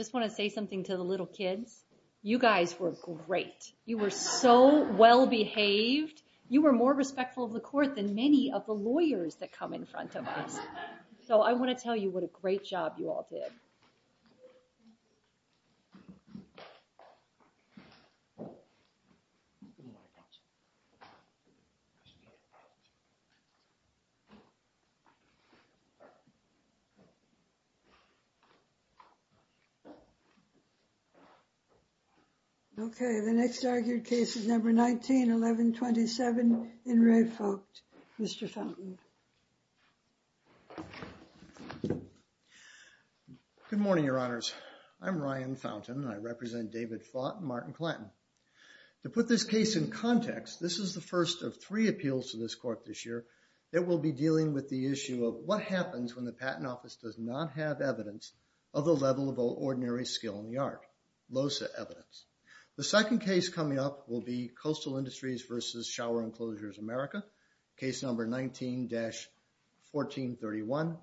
I just want to say something to the little kids. You guys were great. You were so well behaved. You were more respectful of the court than many of the lawyers that come in front of us. So I want to tell you what a great job you all did. OK, the next argued case is number 19, 1127 in Re Fought. Mr. Fountain. Good morning, Your Honors. I'm Ryan Fountain, and I represent David Fought and Martin Clanton. To put this case in context, this is the first of three appeals to this court this year that will be dealing with the issue of what happens when the patent office does not have evidence of the level of ordinary skill in the art, LOSA evidence. The second case coming up will be Coastal Industries versus Shower Enclosures America, case number 19-1431.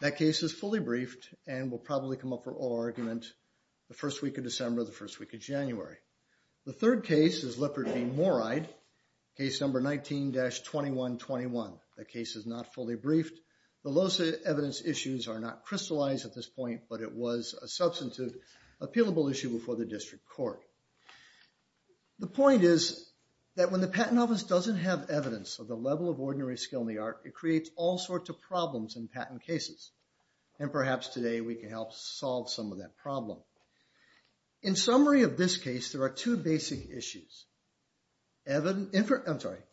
That case is fully briefed and will probably come up for oral argument the first week of December, the first week of January. The third case is Leopardine Moride, case number 19-2121. That case is not fully briefed. The LOSA evidence issues are not crystallized at this point, but it was a substantive appealable issue before the district court. The point is that when the patent office doesn't have evidence of the level of ordinary skill in the art, it creates all sorts of problems in patent cases. And perhaps today we can help solve some of that problem. In summary of this case, there are two basic issues.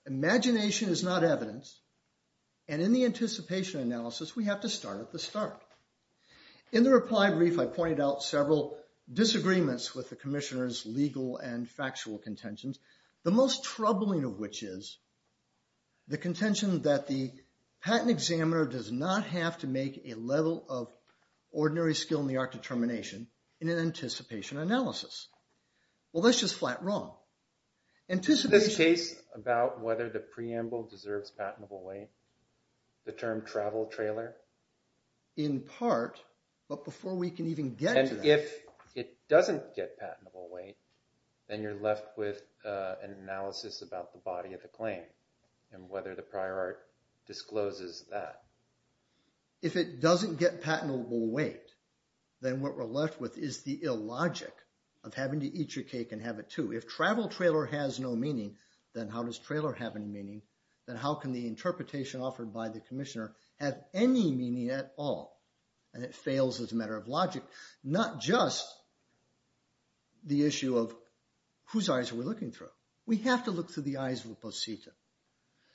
Imagination is not evidence, and in the anticipation analysis, we have to start at the start. In the reply brief, I pointed out several disagreements with the commissioner's legal and factual contentions, the most troubling of which is the contention that the patent examiner does not have to make a level of ordinary skill in the art determination in an anticipation analysis. Well, that's just flat wrong. Anticipation. This case about whether the preamble deserves patentable weight, the term travel trailer? In part, but before we can even get to that. If it doesn't get patentable weight, then you're left with an analysis about the body of the claim and whether the prior art discloses that. If it doesn't get patentable weight, then what we're left with is the illogic of having to eat your cake and have it too. If travel trailer has no meaning, then how does trailer have any meaning? Then how can the interpretation offered by the commissioner have any meaning at all? And it fails as a matter of logic. Not just the issue of whose eyes are we looking through. We have to look through the eyes of a posita.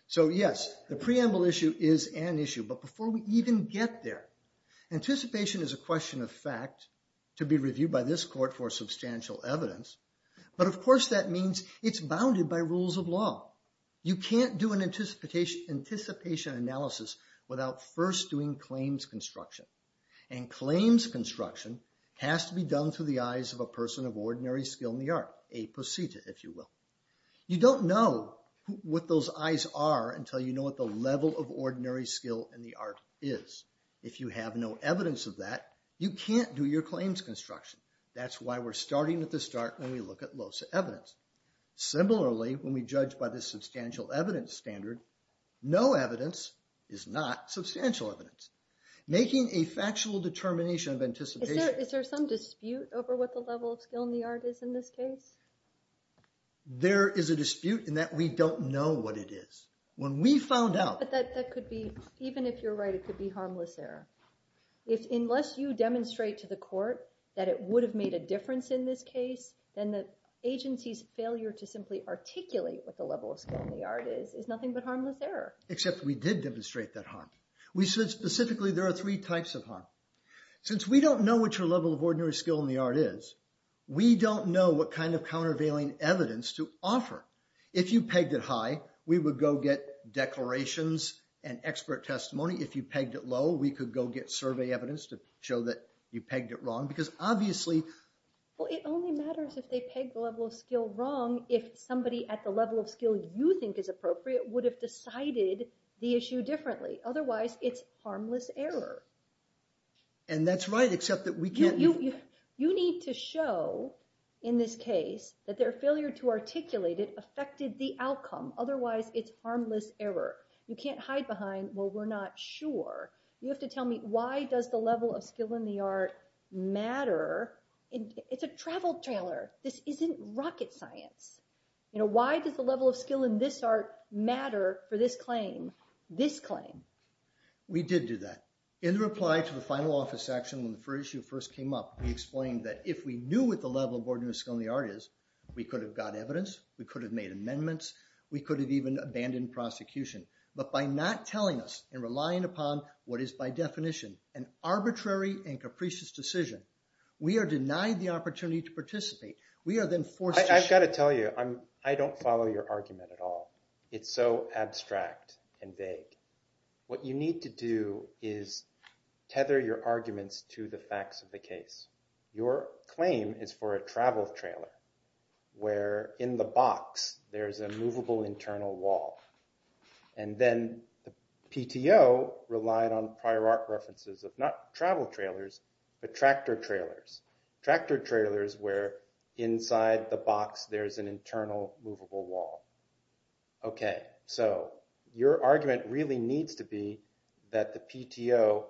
So yes, the preamble issue is an issue. But before we even get there, anticipation is a question of fact to be reviewed by this court for substantial evidence. But of course, that means it's bounded by rules of law. You can't do an anticipation analysis without first doing claims construction. And claims construction has to be done through the eyes of a person of ordinary skill in the art, a posita, if you will. You don't know what those eyes are until you know what the level of ordinary skill in the art is. If you have no evidence of that, you can't do your claims construction. That's why we're starting at the start when we look at LOSA evidence. Similarly, when we judge by the substantial evidence standard, no evidence is not substantial evidence. Making a factual determination of anticipation. Is there some dispute over what the level of skill in the art is in this case? There is a dispute in that we don't know what it is. When we found out. But that could be, even if you're right, it could be harmless error. Unless you demonstrate to the court that it would have made a difference in this case, then the agency's failure to simply articulate what the level of skill in the art is is nothing but harmless error. Except we did demonstrate that harm. We said specifically there are three types of harm. Since we don't know what your level of ordinary skill in the art is, we don't know what kind of countervailing evidence to offer. If you pegged it high, we would go get declarations and expert testimony. If you pegged it low, we could go get survey evidence to show that you pegged it wrong. Because obviously, it only matters if they peg the level of skill wrong if somebody at the level of skill you think is appropriate would have decided the issue differently. Otherwise, it's harmless error. And that's right, except that we can't... You need to show in this case that their failure to articulate it affected the outcome. Otherwise, it's harmless error. You can't hide behind, well, we're not sure. You have to tell me, why does the level of skill in the art matter? It's a travel trailer. This isn't rocket science. You know, why does the level of skill in this art matter for this claim, this claim? We did do that. In the reply to the final office action when the first issue first came up, we explained that if we knew what the level of ordinary skill in the art is, we could have got evidence, we could have made amendments, we could have even abandoned prosecution. But by not telling us and relying upon what is by definition an arbitrary and capricious decision, we are denied the opportunity to participate. We are then forced to... I've got to tell you, I don't follow your argument at all. It's so abstract and vague. What you need to do is tether your arguments to the facts of the case. Your claim is for a travel trailer, where in the box there's a movable internal wall. And then the PTO relied on prior art references of not travel trailers, but tractor trailers. Tractor trailers where inside the box there's an internal movable wall. Okay, so your argument really needs to be that the PTO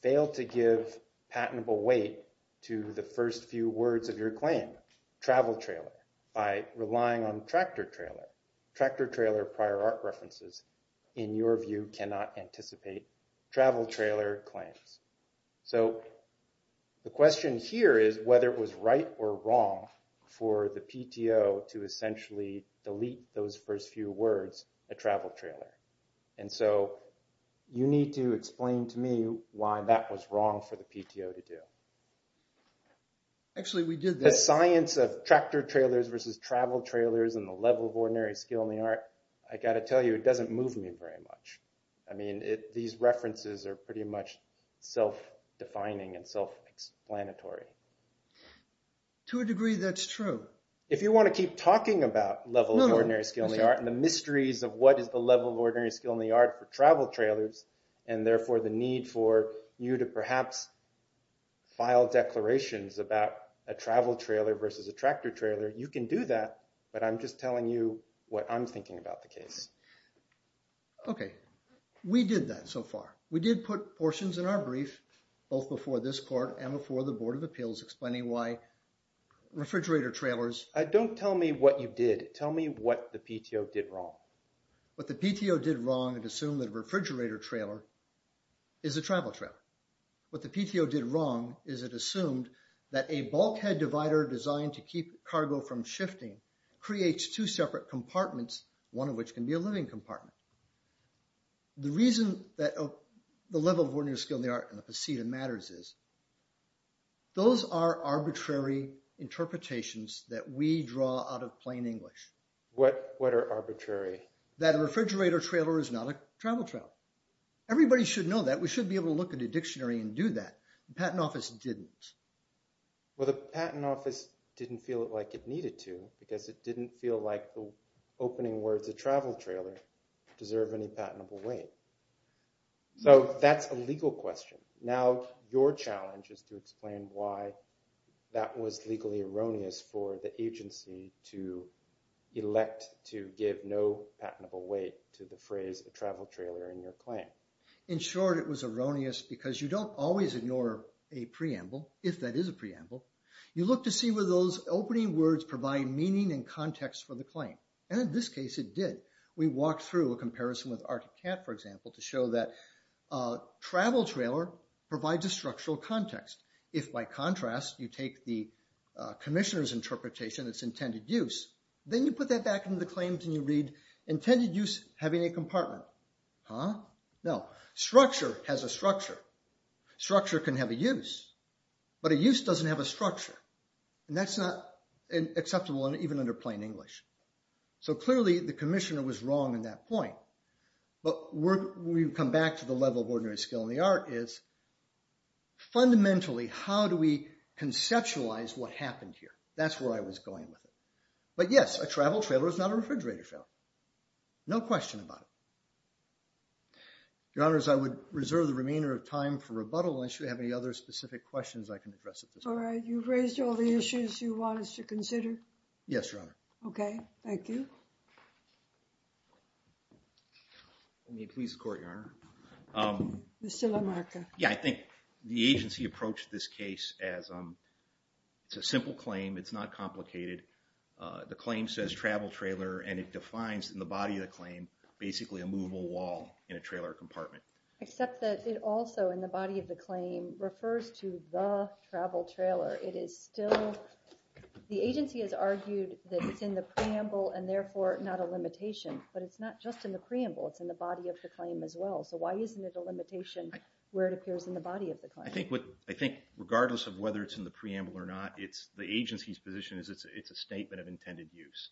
failed to give patentable weight to the first few words of your claim, travel trailer, by relying on tractor trailer. Tractor trailer prior art references, in your view, cannot anticipate travel trailer claims. So the question here is whether it was right or wrong for the PTO to essentially delete those first few words, a travel trailer. And so you need to explain to me why that was wrong for the PTO to do. Actually, we did this. The science of tractor trailers versus travel trailers and the level of ordinary skill in the art, I got to tell you, it doesn't move me very much. I mean, these references are pretty much self-defining and self-explanatory. To a degree that's true. If you want to keep talking about level of ordinary skill in the art and the mysteries of what is the level of ordinary skill in the art for travel trailers, and therefore the need for you to perhaps file declarations about a travel trailer versus a tractor trailer, you can do that, but I'm just telling you what I'm thinking about the case. Okay, we did that so far. We did put portions in our brief, both before this court and before the board of attorneys. And we did a number of appeals explaining why refrigerator trailers. Don't tell me what you did. Tell me what the PTO did wrong. What the PTO did wrong, it assumed that a refrigerator trailer is a travel trailer. What the PTO did wrong is it assumed that a bulkhead divider designed to keep cargo from shifting creates two separate compartments, one of which can be a living compartment. The reason that the level of ordinary skill in the art and the procedure matters is those are arbitrary interpretations that we draw out of plain English. What are arbitrary? That a refrigerator trailer is not a travel trailer. Everybody should know that. We should be able to look at a dictionary and do that. The patent office didn't. Well, the patent office didn't feel like it needed to because it didn't feel like the opening words of travel trailer deserve any patentable weight. So that's a legal question. Now, your challenge is to explain why that was legally erroneous for the agency to elect to give no patentable weight to the phrase a travel trailer in your claim. In short, it was erroneous because you don't always ignore a preamble, if that is a preamble. You look to see where those opening words provide meaning and context for the claim. And in this case, it did. We walked through a comparison with Arctic Cat, for example, to show that a travel trailer provides a structural context. If by contrast, you take the commissioner's interpretation, it's intended use, then you put that back into the claims and you read intended use having a compartment. Huh? No, structure has a structure. Structure can have a use, but a use doesn't have a structure. And that's not acceptable even under plain English. So clearly, the commissioner was wrong in that point. But we've come back to the level of ordinary skill in the art is, fundamentally, how do we conceptualize what happened here? That's where I was going with it. But yes, a travel trailer is not a refrigerator trailer. No question about it. Your honors, I would reserve the remainder of time for rebuttal unless you have any other specific questions I can address at this point. All right, you've raised all the issues you want us to consider? Yes, your honor. Okay, thank you. Let me please the court, your honor. Mr. LaMarca. Yeah, I think the agency approached this case as a simple claim, it's not complicated. The claim says travel trailer and it defines in the body of the claim basically a movable wall in a trailer compartment. Except that it also, in the body of the claim, refers to the travel trailer. It is still, the agency has argued that it's in the preamble and therefore not a limitation. But it's not just in the preamble, it's in the body of the claim as well. So why isn't it a limitation where it appears in the body of the claim? I think regardless of whether it's in the preamble or not, the agency's position is it's a statement of intended use.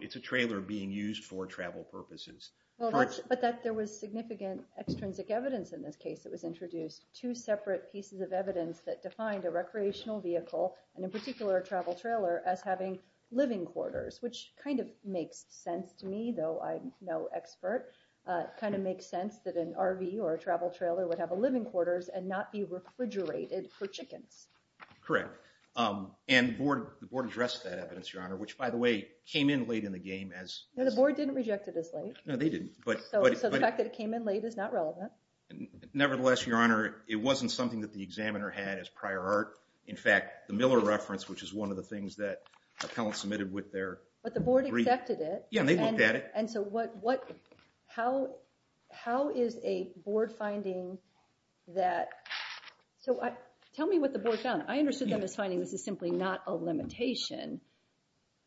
It's a trailer being used for travel purposes. But there was significant extrinsic evidence in this case that was introduced. Two separate pieces of evidence that defined a recreational vehicle, and in particular a travel trailer, as having living quarters, which kind of makes sense to me, though I'm no expert. Kind of makes sense that an RV or a travel trailer would have a living quarters and not be refrigerated for chickens. Correct. And the board addressed that evidence, Your Honor, which, by the way, came in late in the game as- No, the board didn't reject it as late. No, they didn't. So the fact that it came in late is not relevant. Nevertheless, Your Honor, it wasn't something that the examiner had as prior art. In fact, the Miller reference, which is one of the things that appellants submitted with their- But the board accepted it. Yeah, and they looked at it. And so how is a board finding that... So tell me what the board found. I understood them as finding this is simply not a limitation.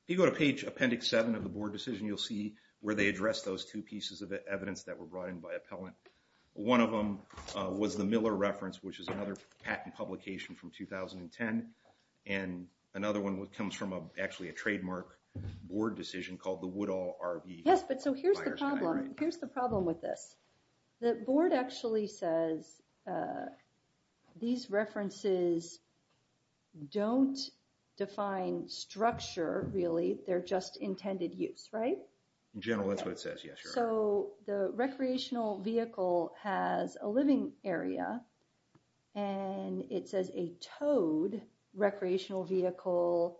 If you go to page appendix seven of the board decision, you'll see where they addressed those two pieces of evidence that were brought in by appellant. One of them was the Miller reference, which is another patent publication from 2010. And another one comes from, actually, a trademark board decision called the Woodall RV- Yes, but so here's the problem. Here's the problem with this. The board actually says these references don't define structure, really. They're just intended use, right? In general, that's what it says, yes, Your Honor. So the recreational vehicle has a living area and it says a towed recreational vehicle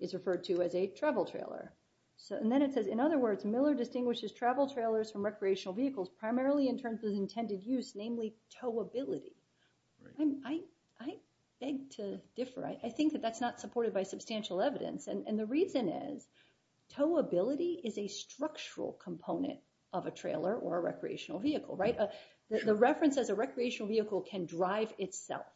is referred to as a travel trailer. So, and then it says, in other words, Miller distinguishes travel trailers from recreational vehicles primarily in terms of intended use, namely towability. I beg to differ. I think that that's not supported by substantial evidence. And the reason is towability is a structural component of a trailer or a recreational vehicle, right? The reference as a recreational vehicle can drive itself.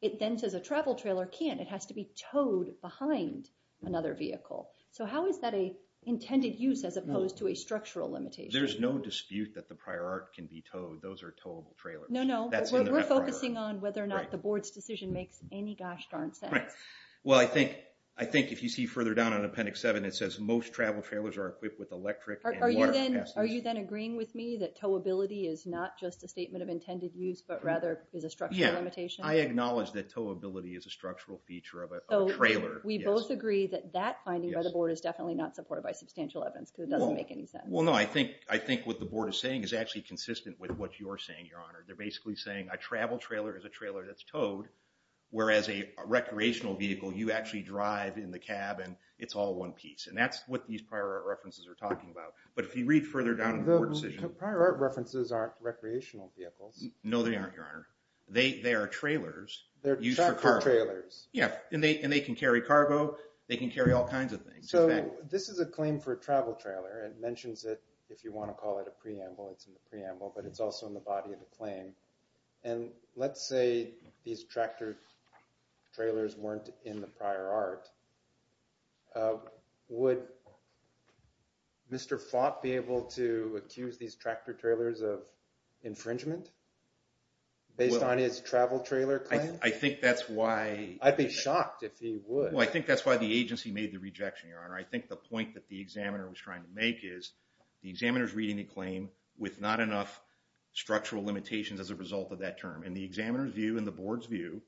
It then says a travel trailer can't. It has to be towed behind another vehicle. So how is that an intended use as opposed to a structural limitation? There's no dispute that the prior art can be towed. Those are towable trailers. No, no, we're focusing on whether or not the board's decision makes any gosh darn sense. Well, I think if you see further down on Appendix 7, it says most travel trailers are equipped with electric and water capacities. Are you then agreeing with me that towability is not just a statement of intended use, but rather is a structural limitation? I acknowledge that towability is a structural feature of a trailer. We both agree that that finding by the board is definitely not supported by substantial evidence because it doesn't make any sense. Well, no, I think what the board is saying is actually consistent with what you're saying, Your Honor. They're basically saying a travel trailer is a trailer that's towed, whereas a recreational vehicle, you actually drive in the cabin. It's all one piece. And that's what these prior art references are talking about. But if you read further down in the board decision. Prior art references aren't recreational vehicles. No, they aren't, Your Honor. They are trailers. They're tractor trailers. Yeah, and they can carry cargo. They can carry all kinds of things. So this is a claim for a travel trailer. It mentions it, if you want to call it a preamble, it's in the preamble, but it's also in the body of the claim. And let's say these tractor trailers weren't in the prior art. Would Mr. Fott be able to accuse these tractor trailers of infringement based on his travel trailer claim? I think that's why. I'd be shocked if he would. Well, I think that's why the agency made the rejection, Your Honor. I think the point that the examiner was trying to make is, the examiner's reading the claim with not enough structural limitations as a result of that term. In the examiner's view and the board's view,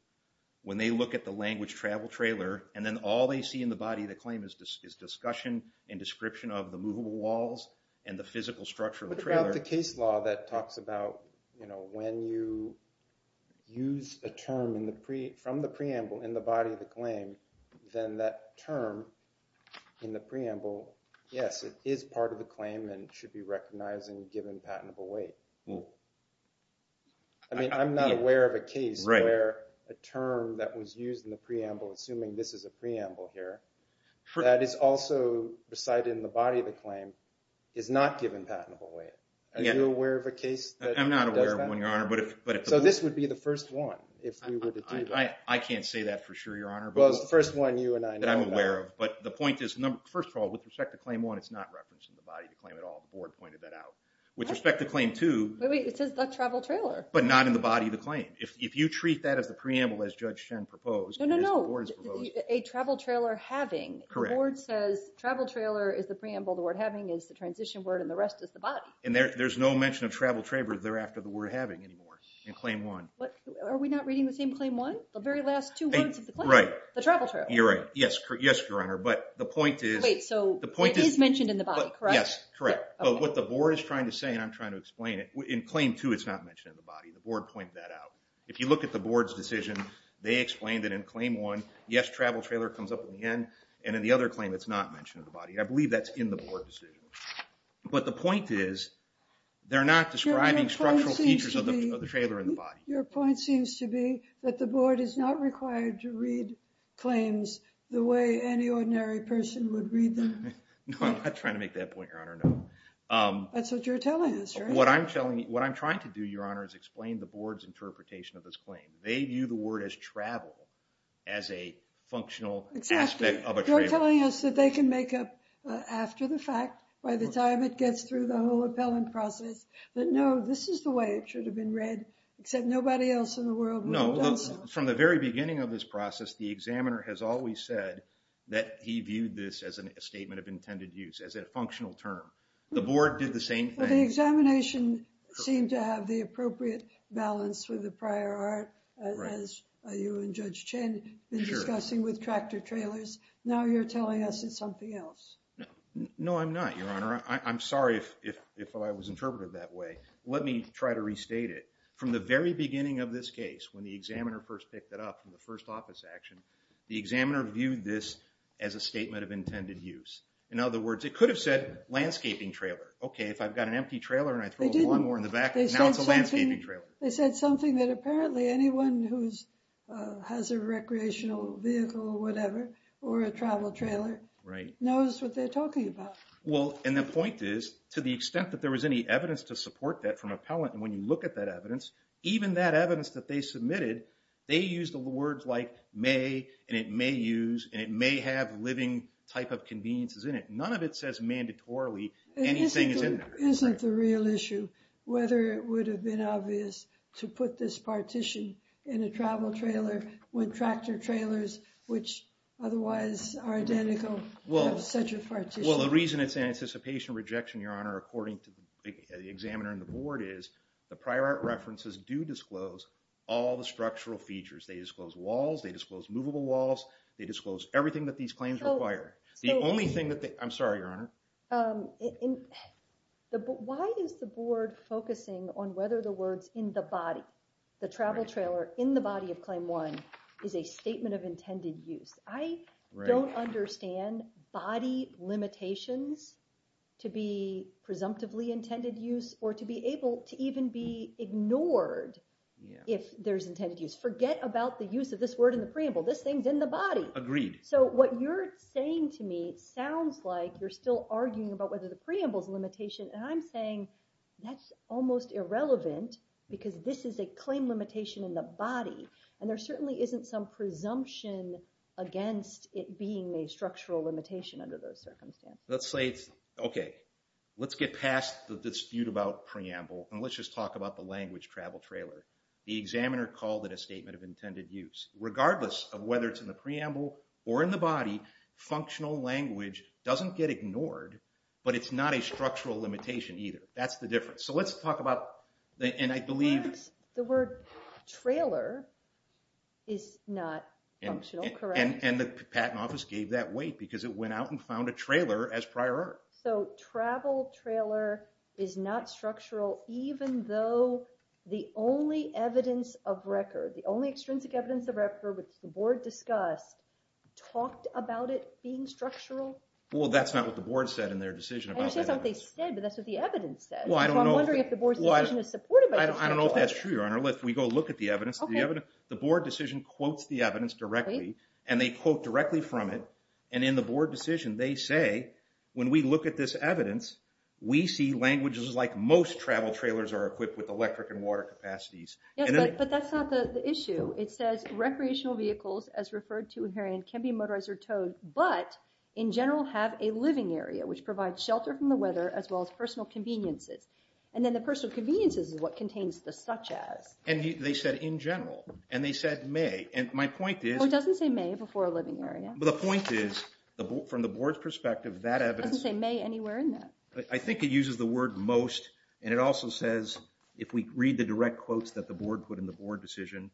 when they look at the language travel trailer and then all they see in the body of the claim is discussion and description of the movable walls and the physical structure of the trailer. What about the case law that talks about when you use a term from the preamble in the body of the claim, then that term in the preamble, yes, it is part of the claim and should be recognized and given patentable weight. where a term that was used in the preamble, assuming this is a preamble here, that is also recited in the body of the claim is not given patentable weight. Are you aware of a case that does that? I'm not aware of one, Your Honor. So this would be the first one, if we were to do that. I can't say that for sure, Your Honor. Well, it's the first one you and I know about. That I'm aware of. But the point is, first of all, with respect to claim one, it's not referenced in the body of the claim at all. The board pointed that out. With respect to claim two. Wait, wait, it says the travel trailer. But not in the body of the claim. If you treat that as the preamble as Judge Shen proposed, as the board has proposed. No, no, no. A travel trailer having. Correct. The board says travel trailer is the preamble, the word having is the transition word, and the rest is the body. And there's no mention of travel trailer thereafter the word having anymore in claim one. Are we not reading the same claim one? The very last two words of the claim. Right. The travel trailer. You're right. Yes, Your Honor. But the point is. Wait, so it is mentioned in the body, correct? Yes, correct. But what the board is trying to say, and I'm trying to explain it, in claim two it's not mentioned in the body. The board pointed that out. If you look at the board's decision, they explained that in claim one, yes, travel trailer comes up at the end, and in the other claim it's not mentioned in the body. I believe that's in the board decision. But the point is, they're not describing structural features of the trailer in the body. Your point seems to be that the board is not required to read claims the way any ordinary person would read them. No, I'm not trying to make that point, Your Honor, no. That's what you're telling us, right? What I'm trying to do, Your Honor, is explain the board's interpretation of this claim. They view the word as travel, as a functional aspect of a trailer. You're telling us that they can make up after the fact, by the time it gets through the whole appellant process, that no, this is the way it should have been read, except nobody else in the world would have done so. From the very beginning of this process, the examiner has always said that he viewed this as a statement of intended use, as a functional term. The board did the same thing. Well, the examination seemed to have the appropriate balance with the prior art, as you and Judge Chen have been discussing with tractor trailers. Now you're telling us it's something else. No, I'm not, Your Honor. I'm sorry if I was interpreted that way. Let me try to restate it. From the very beginning of this case, when the examiner first picked it up, from the first office action, the examiner viewed this as a statement of intended use. In other words, it could have said landscaping trailer. Okay, if I've got an empty trailer and I throw a lawnmower in the back, now it's a landscaping trailer. They said something that apparently anyone who has a recreational vehicle or whatever, or a travel trailer, knows what they're talking about. Well, and the point is, to the extent that there was any evidence to support that from appellant, and when you look at that evidence, even that evidence that they submitted, they used the words like may, and it may use, and it may have living type of conveniences in it. None of it says mandatorily anything is in there. It isn't the real issue. Whether it would have been obvious to put this partition in a travel trailer when tractor trailers, which otherwise are identical, have such a partition. Well, the reason it's anticipation of rejection, Your Honor, according to the examiner and the board is, the prior art references do disclose all the structural features. They disclose walls, they disclose movable walls, they disclose everything that these claims require. The only thing that they, I'm sorry, Your Honor. In the, why is the board focusing on whether the words in the body, the travel trailer in the body of claim one, is a statement of intended use? I don't understand body limitations to be presumptively intended use, or to be able to even be ignored if there's intended use. Forget about the use of this word in the preamble, this thing's in the body. Agreed. So what you're saying to me, it sounds like you're still arguing about whether the preamble's a limitation, and I'm saying that's almost irrelevant, because this is a claim limitation in the body, and there certainly isn't some presumption against it being a structural limitation under those circumstances. Let's say, okay, let's get past the dispute about preamble, and let's just talk about the language travel trailer. The examiner called it a statement of intended use. Regardless of whether it's in the preamble or in the body, functional language doesn't get ignored, but it's not a structural limitation either. That's the difference. So let's talk about, and I believe- The word trailer is not functional, correct? And the Patent Office gave that weight, because it went out and found a trailer as prior art. So travel trailer is not structural, even though the only evidence of record, the only extrinsic evidence of record which the board discussed, talked about it being structural? Well, that's not what the board said in their decision about that. I understand what they said, but that's what the evidence says. Well, I don't know- So I'm wondering if the board's decision is supported by the- I don't know if that's true, Your Honor. If we go look at the evidence, the board decision quotes the evidence directly, and they quote directly from it, and in the board decision, they say, when we look at this evidence, we see languages like most travel trailers are equipped with electric and water capacities. Yes, but that's not the issue. It says recreational vehicles, as referred to herein, can be motorized or towed, but in general have a living area, which provides shelter from the weather, as well as personal conveniences. And then the personal conveniences is what contains the such as. And they said in general, and they said may, and my point is- Well, it doesn't say may before a living area. But the point is, from the board's perspective, that evidence- It doesn't say may anywhere in that. I think it uses the word most, and it also says, if we read the direct quotes that the board put in the board decision,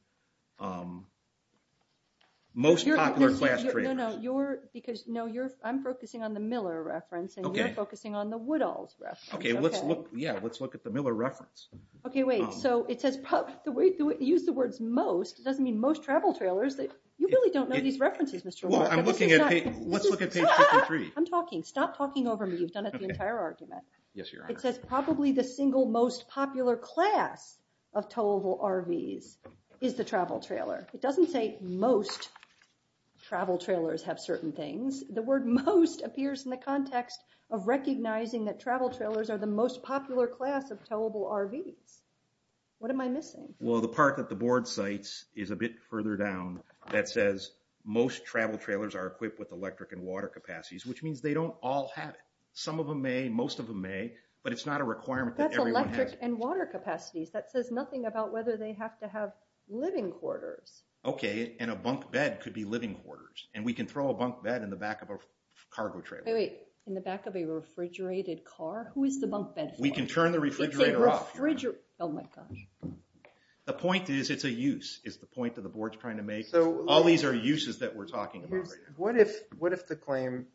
most popular class trailers. No, no, you're, because, no, you're, I'm focusing on the Miller reference, and you're focusing on the Woodall's reference. Okay, let's look, yeah, let's look at the Miller reference. Okay, wait, so it says, the way you use the words most, it doesn't mean most travel trailers. You really don't know these references, Mr. Wood. Well, I'm looking at, let's look at page 53. I'm talking, stop talking over me. You've done it the entire argument. Yes, your honor. It says probably the single most popular class of towable RVs is the travel trailer. It doesn't say most travel trailers have certain things. The word most appears in the context of recognizing that travel trailers are the most popular class of towable RVs. What am I missing? Well, the part that the board cites is a bit further down that says, most travel trailers are equipped with electric and water capacities, which means they don't all have it. Some of them may, most of them may, but it's not a requirement that everyone has- That's electric and water capacities. That says nothing about whether they have to have living quarters. Okay, and a bunk bed could be living quarters. And we can throw a bunk bed in the back of a cargo trailer. Wait, in the back of a refrigerated car? Who is the bunk bed for? We can turn the refrigerator off. It's a refrigerator, oh my gosh. The point is, it's a use, is the point that the board's trying to make. All these are uses that we're talking about right now. What if the claim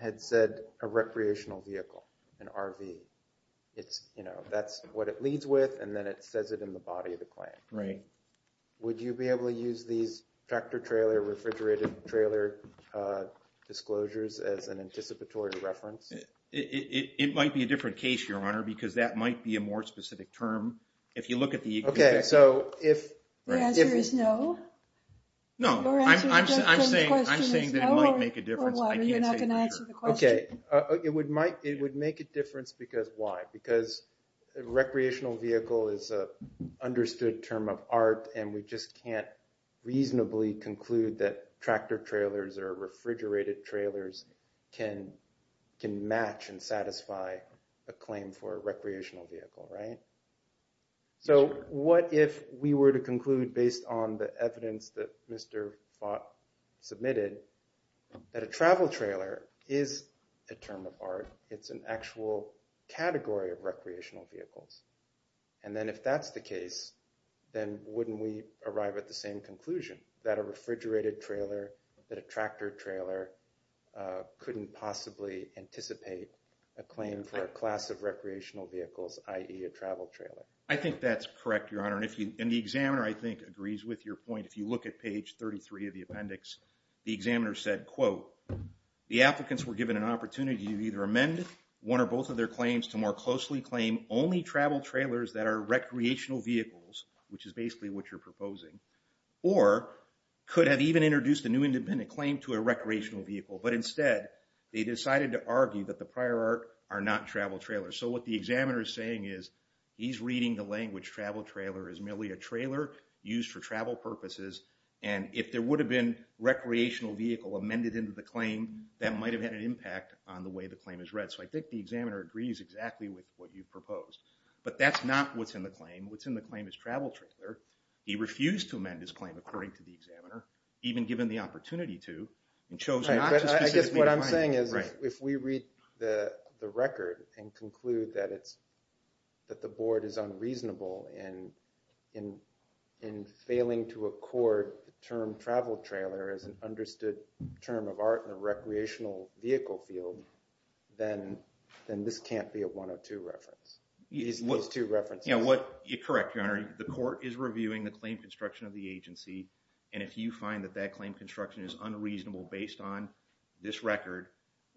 had said a recreational vehicle, an RV? It's, you know, that's what it leads with, and then it says it in the body of the claim. Right. Would you be able to use these tractor trailer, refrigerated trailer disclosures as an anticipatory reference? It might be a different case, Your Honor, because that might be a more specific term. If you look at the- Okay, so if- The answer is no? No, I'm saying that it might make a difference. I can't say for sure. Okay, it would make a difference because why, because a recreational vehicle is a understood term of art, and we just can't reasonably conclude that tractor trailers or refrigerated trailers can match and satisfy a claim for a recreational vehicle, right? So what if we were to conclude, based on the evidence that Mr. Falk submitted, that a travel trailer is a term of art? It's an actual category of recreational vehicles, and then if that's the case, then wouldn't we arrive at the same conclusion that a refrigerated trailer, that a tractor trailer couldn't possibly anticipate a claim for a class of recreational vehicles, i.e. a travel trailer? I think that's correct, Your Honor, and the examiner, I think, agrees with your point. If you look at page 33 of the appendix, the examiner said, quote, the applicants were given an opportunity to either amend one or both of their claims to more closely claim only travel trailers that are recreational vehicles, which is basically what you're proposing, or could have even introduced a new independent claim to a recreational vehicle, but instead, they decided to argue that the prior art are not travel trailers. So what the examiner is saying is he's reading the language travel trailer as merely a trailer used for travel purposes, and if there would have been recreational vehicle amended into the claim, that might have had an impact on the way the claim is read. So I think the examiner agrees exactly with what you've proposed. But that's not what's in the claim. What's in the claim is travel trailer. He refused to amend his claim, according to the examiner, even given the opportunity to, and chose not to specifically find it. I guess what I'm saying is if we read the record and conclude that the board is unreasonable in failing to accord the term travel trailer as an understood term of art in a recreational vehicle field, then this can't be a 102 reference. These two references. Yeah, correct, Your Honor. The court is reviewing the claim construction of the agency, and if you find that that claim construction is unreasonable based on this record,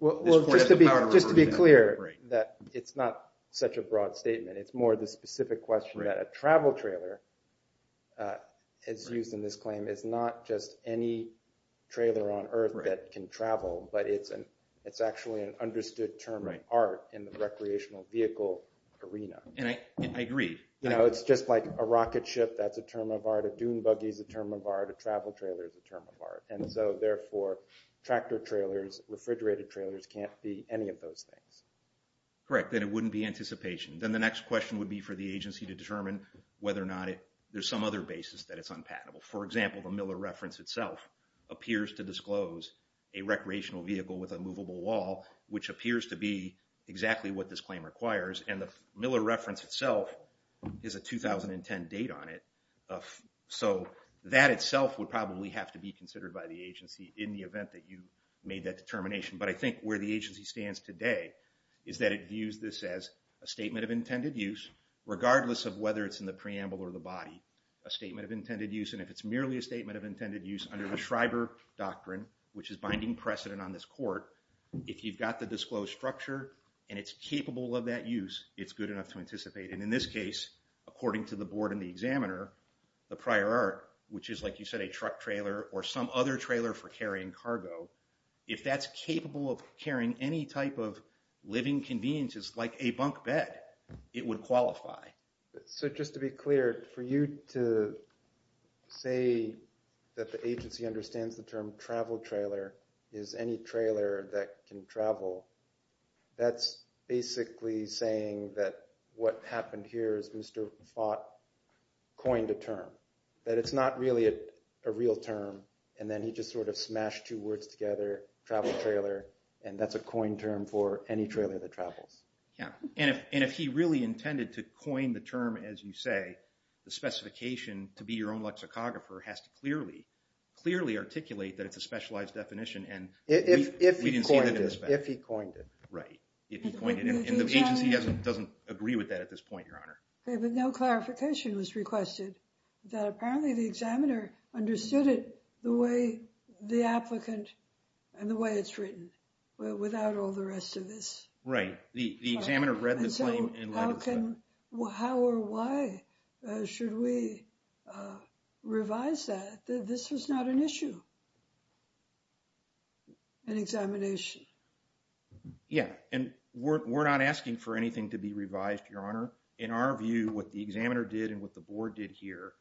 this court has the power to review that. Just to be clear that it's not such a broad statement. It's more the specific question that a travel trailer is used in this claim as not just any trailer on earth that can travel, but it's actually an understood term of art in the recreational vehicle arena. And I agree. You know, it's just like a rocket ship. That's a term of art. A dune buggy is a term of art. A travel trailer is a term of art. And so, therefore, tractor trailers, refrigerated trailers can't be any of those things. Correct, then it wouldn't be anticipation. Then the next question would be for the agency to determine whether or not there's some other basis that it's unpatentable. For example, the Miller reference itself appears to disclose a recreational vehicle with a movable wall, which appears to be exactly what this claim requires. And the Miller reference itself is a 2010 date on it. So that itself would probably have to be considered by the agency in the event that you made that determination. But I think where the agency stands today is that it views this as a statement of intended use, regardless of whether it's in the preamble or the body, a statement of intended use. And if it's merely a statement of intended use under the Schreiber doctrine, which is binding precedent on this court, if you've got the disclosed structure and it's capable of that use, it's good enough to anticipate. And in this case, according to the board and the examiner, the prior art, which is like you said, a truck trailer or some other trailer for carrying cargo, if that's capable of carrying any type of living conveniences like a bunk bed, it would qualify. So just to be clear, for you to say that the agency understands the term travel trailer is any trailer that can travel, that's basically saying that what happened here is Mr. Fott coined a term, that it's not really a real term. And then he just sort of smashed two words together, travel trailer, and that's a coined term for any trailer that travels. Yeah, and if he really intended to coin the term, as you say, the specification to be your own lexicographer has to clearly articulate that it's a specialized definition and we didn't see that in this case. If he coined it. Right, if he coined it. And the agency doesn't agree with that at this point, Your Honor. Okay, but no clarification was requested that apparently the examiner understood it the way the applicant and the way it's written without all the rest of this. Right, the examiner read the claim in light of that. How or why should we revise that? This was not an issue, an examination. Yeah, and we're not asking for anything to be revised, Your Honor. In our view, what the examiner did and what the board did here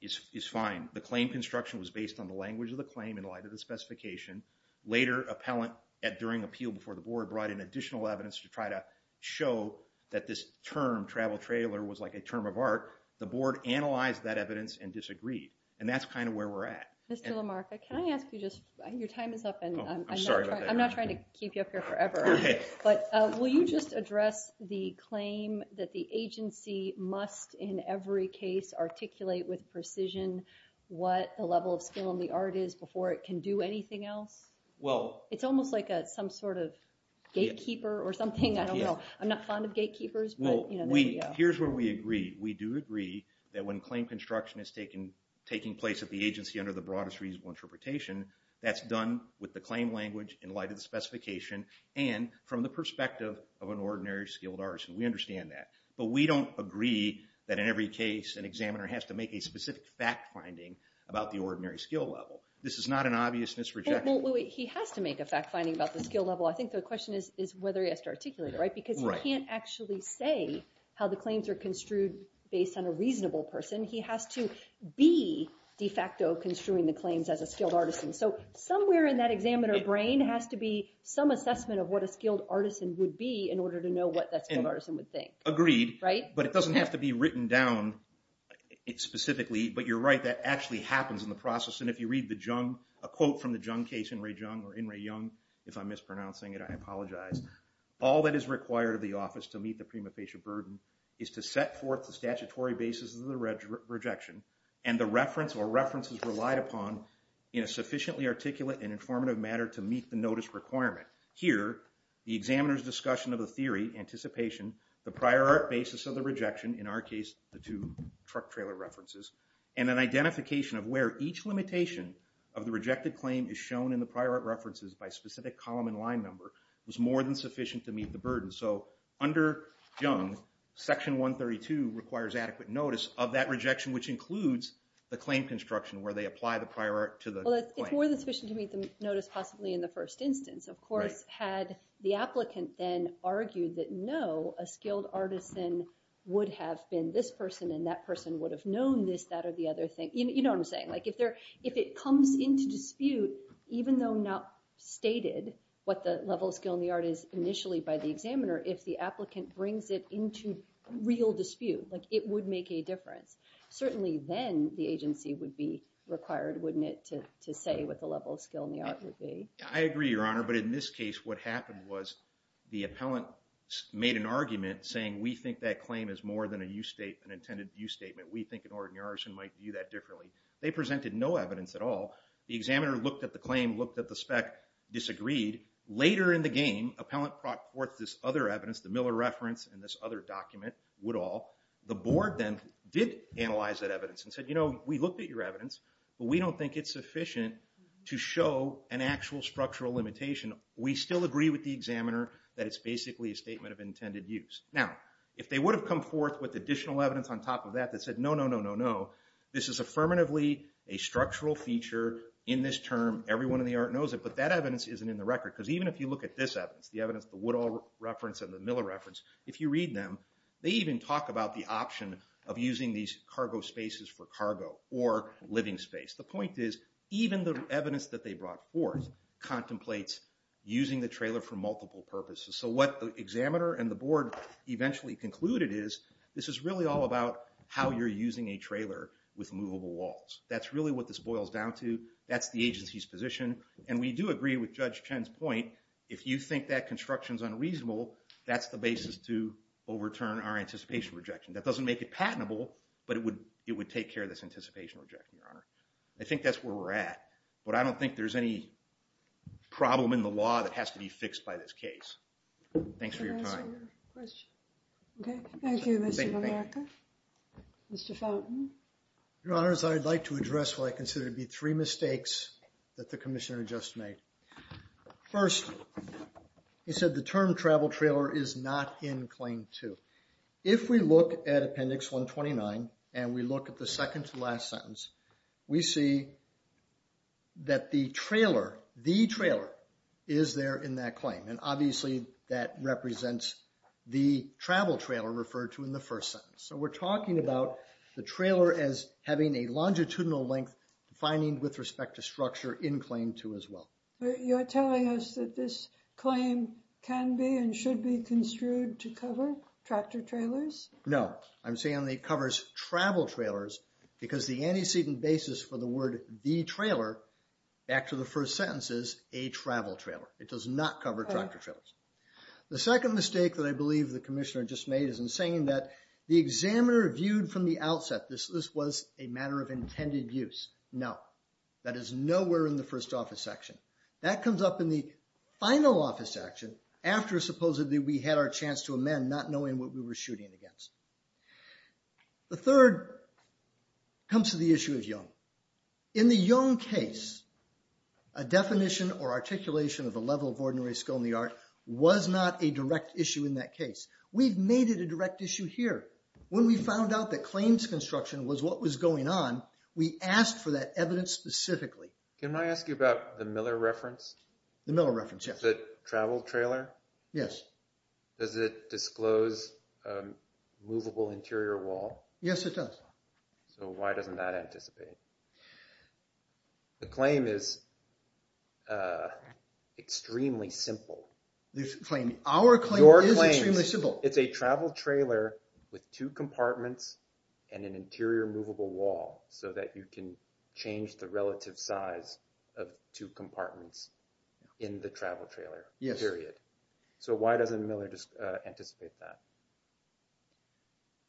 is fine. The claim construction was based on the language of the claim in light of the specification. Later, appellant at during appeal before the board brought in additional evidence to try to show that this term, travel trailer, was like a term of art, the board analyzed that evidence and disagreed. And that's kind of where we're at. Mr. LaMarca, can I ask you just, your time is up and I'm not trying to keep you up here forever, but will you just address the claim that the agency must in every case articulate with precision what the level of skill in the art is before it can do anything else? It's almost like some sort of gatekeeper or something, I don't know, I'm not fond of gatekeepers, but you know, there you go. Here's where we agree, we do agree that when claim construction is taking place at the agency under the broadest reasonable interpretation, that's done with the claim language in light of the specification and from the perspective of an ordinary skilled artist, and we understand that. But we don't agree that in every case an examiner has to make a specific fact finding about the ordinary skill level. This is not an obvious misrejection. He has to make a fact finding about the skill level. I think the question is whether he has to articulate it, right, because he can't actually say how the claims are construed based on a reasonable person. He has to be de facto construing the claims as a skilled artisan. So somewhere in that examiner brain has to be some assessment of what a skilled artisan would be in order to know what that skilled artisan would think. Agreed. But it doesn't have to be written down specifically, but you're right, that actually happens in the process. And if you read the Jung, a quote from the Jung case, In-Rae Jung, or In-Rae Jung, if I'm mispronouncing it, I apologize, all that is required of the office to meet the prima facie burden is to set forth the statutory basis of the rejection and the reference or references relied upon in a sufficiently articulate and informative matter to meet the notice requirement. Here, the examiner's discussion of the theory, anticipation, the prior art basis of the rejection, in our case, the two truck trailer references, and an identification of where each limitation of the rejected claim is shown in the prior art references by specific column and line number was more than sufficient to meet the burden. So under Jung, section 132 requires adequate notice of that rejection, which includes the claim construction where they apply the prior art to the claim. Well, it's more than sufficient to meet the notice, possibly in the first instance. Of course, had the applicant then argued that no, a skilled artisan would have been this person and that person would have known this, that, or the other thing, you know what I'm saying. Like if it comes into dispute, even though not stated what the level of skill in the art is initially by the examiner, if the applicant brings it into real dispute, like it would make a difference. Certainly then the agency would be required, wouldn't it, to say what the level of skill in the art would be. I agree, Your Honor, but in this case, what happened was the appellant made an argument saying we think that claim is more than a use statement than an intended use statement. We think an ordinary artisan might view that differently. They presented no evidence at all. The examiner looked at the claim, looked at the spec, disagreed. Later in the game, appellant brought forth this other evidence, the Miller reference and this other document, Woodall. The board then did analyze that evidence and said, you know, we looked at your evidence, but we don't think it's sufficient to show an actual structural limitation. We still agree with the examiner that it's basically a statement of intended use. Now, if they would have come forth with additional evidence on top of that that said, no, no, no, no, no, this is affirmatively a structural feature in this term. Everyone in the art knows it, but that evidence isn't in the record. Because even if you look at this evidence, the evidence the Woodall reference and the Miller reference, if you read them, they even talk about the option of using these cargo spaces for cargo or living space. The point is, even the evidence that they brought forth contemplates using the trailer for multiple purposes. So what the examiner and the board eventually concluded is, this is really all about how you're using a trailer with movable walls. That's really what this boils down to. That's the agency's position. And we do agree with Judge Chen's point. If you think that construction is unreasonable, that's the basis to overturn our anticipation rejection. That doesn't make it patentable, but it would take care of this anticipation rejection. I think that's where we're at. But I don't think there's any problem in the law that Thanks for your time. Can I answer your question? OK. Thank you, Mr. Mamarkoff. Mr. Fountain. Your Honors, I'd like to address what I consider to be three mistakes that the commissioner just made. First, he said the term travel trailer is not in Claim 2. If we look at Appendix 129, and we look at the second to last sentence, we see that the trailer, the trailer, is there in that claim. And obviously, that represents the travel trailer referred to in the first sentence. So we're talking about the trailer as having a longitudinal length defining with respect to structure in Claim 2 as well. You're telling us that this claim can be and should be construed to cover tractor trailers? No. I'm saying it covers travel trailers, because the antecedent basis for the word the trailer, back to the first sentence, is a travel trailer. It does not cover tractor trailers. The second mistake that I believe the commissioner just made is in saying that the examiner viewed from the outset this was a matter of intended use. No. That is nowhere in the first office section. That comes up in the final office action after supposedly we had our chance to amend not knowing what we were shooting against. The third comes to the issue of young. In the young case, a definition or articulation of the level of ordinary skill in the art was not a direct issue in that case. We've made it a direct issue here. When we found out that claims construction was what was going on, we asked for that evidence specifically. Can I ask you about the Miller reference? The Miller reference, yes. The travel trailer? Yes. Does it disclose a movable interior wall? Yes, it does. So why doesn't that anticipate? OK. The claim is extremely simple. The claim. Our claim is extremely simple. It's a travel trailer with two compartments and an interior movable wall so that you can change the relative size of two compartments in the travel trailer, period. So why doesn't Miller anticipate that?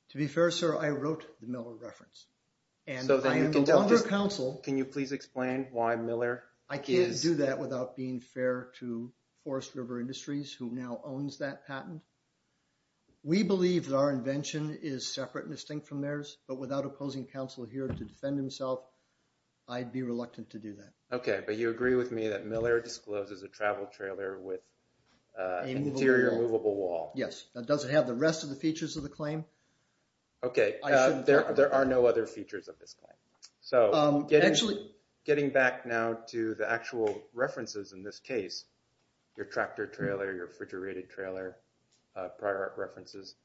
To be fair, sir, I wrote the Miller reference. So then you can tell us, can you please explain why Miller is? I can't do that without being fair to Forest River Industries, who now owns that patent. We believe that our invention is separate and distinct from theirs. But without opposing counsel here to defend himself, I'd be reluctant to do that. OK, but you agree with me that Miller discloses a travel trailer with an interior movable wall. Yes, that doesn't have the rest of the features of the claim. OK, there are no other features of this claim. So getting back now to the actual references in this case, your tractor trailer, your refrigerated trailer, prior art references,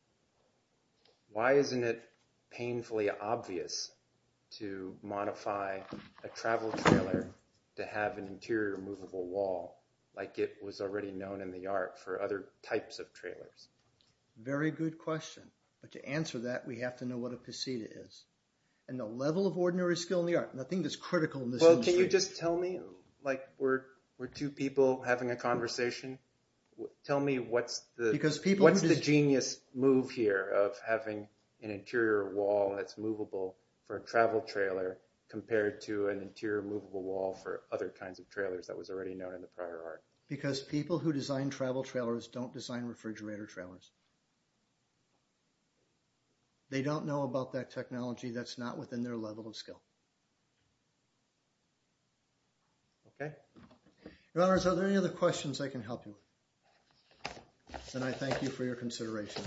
why isn't it painfully obvious to modify a travel trailer to have an interior movable wall like it was already known in the art for other types of trailers? Very good question. But to answer that, we have to know what a pasita is. And the level of ordinary skill in the art, nothing that's critical in this industry. Well, can you just tell me, like we're two people having a conversation, tell me what's the genius move here of having an interior wall that's movable for a travel trailer compared to an interior movable wall for other kinds of trailers that was already known in the prior art? Because people who design travel trailers don't design refrigerator trailers. They don't know about that technology that's not within their level of skill. OK? Your Honors, are there any other questions I can help you with? Then I thank you for your consideration.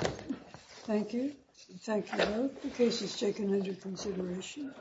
Thank you. Thank you both. The case is taken into consideration. Thank you.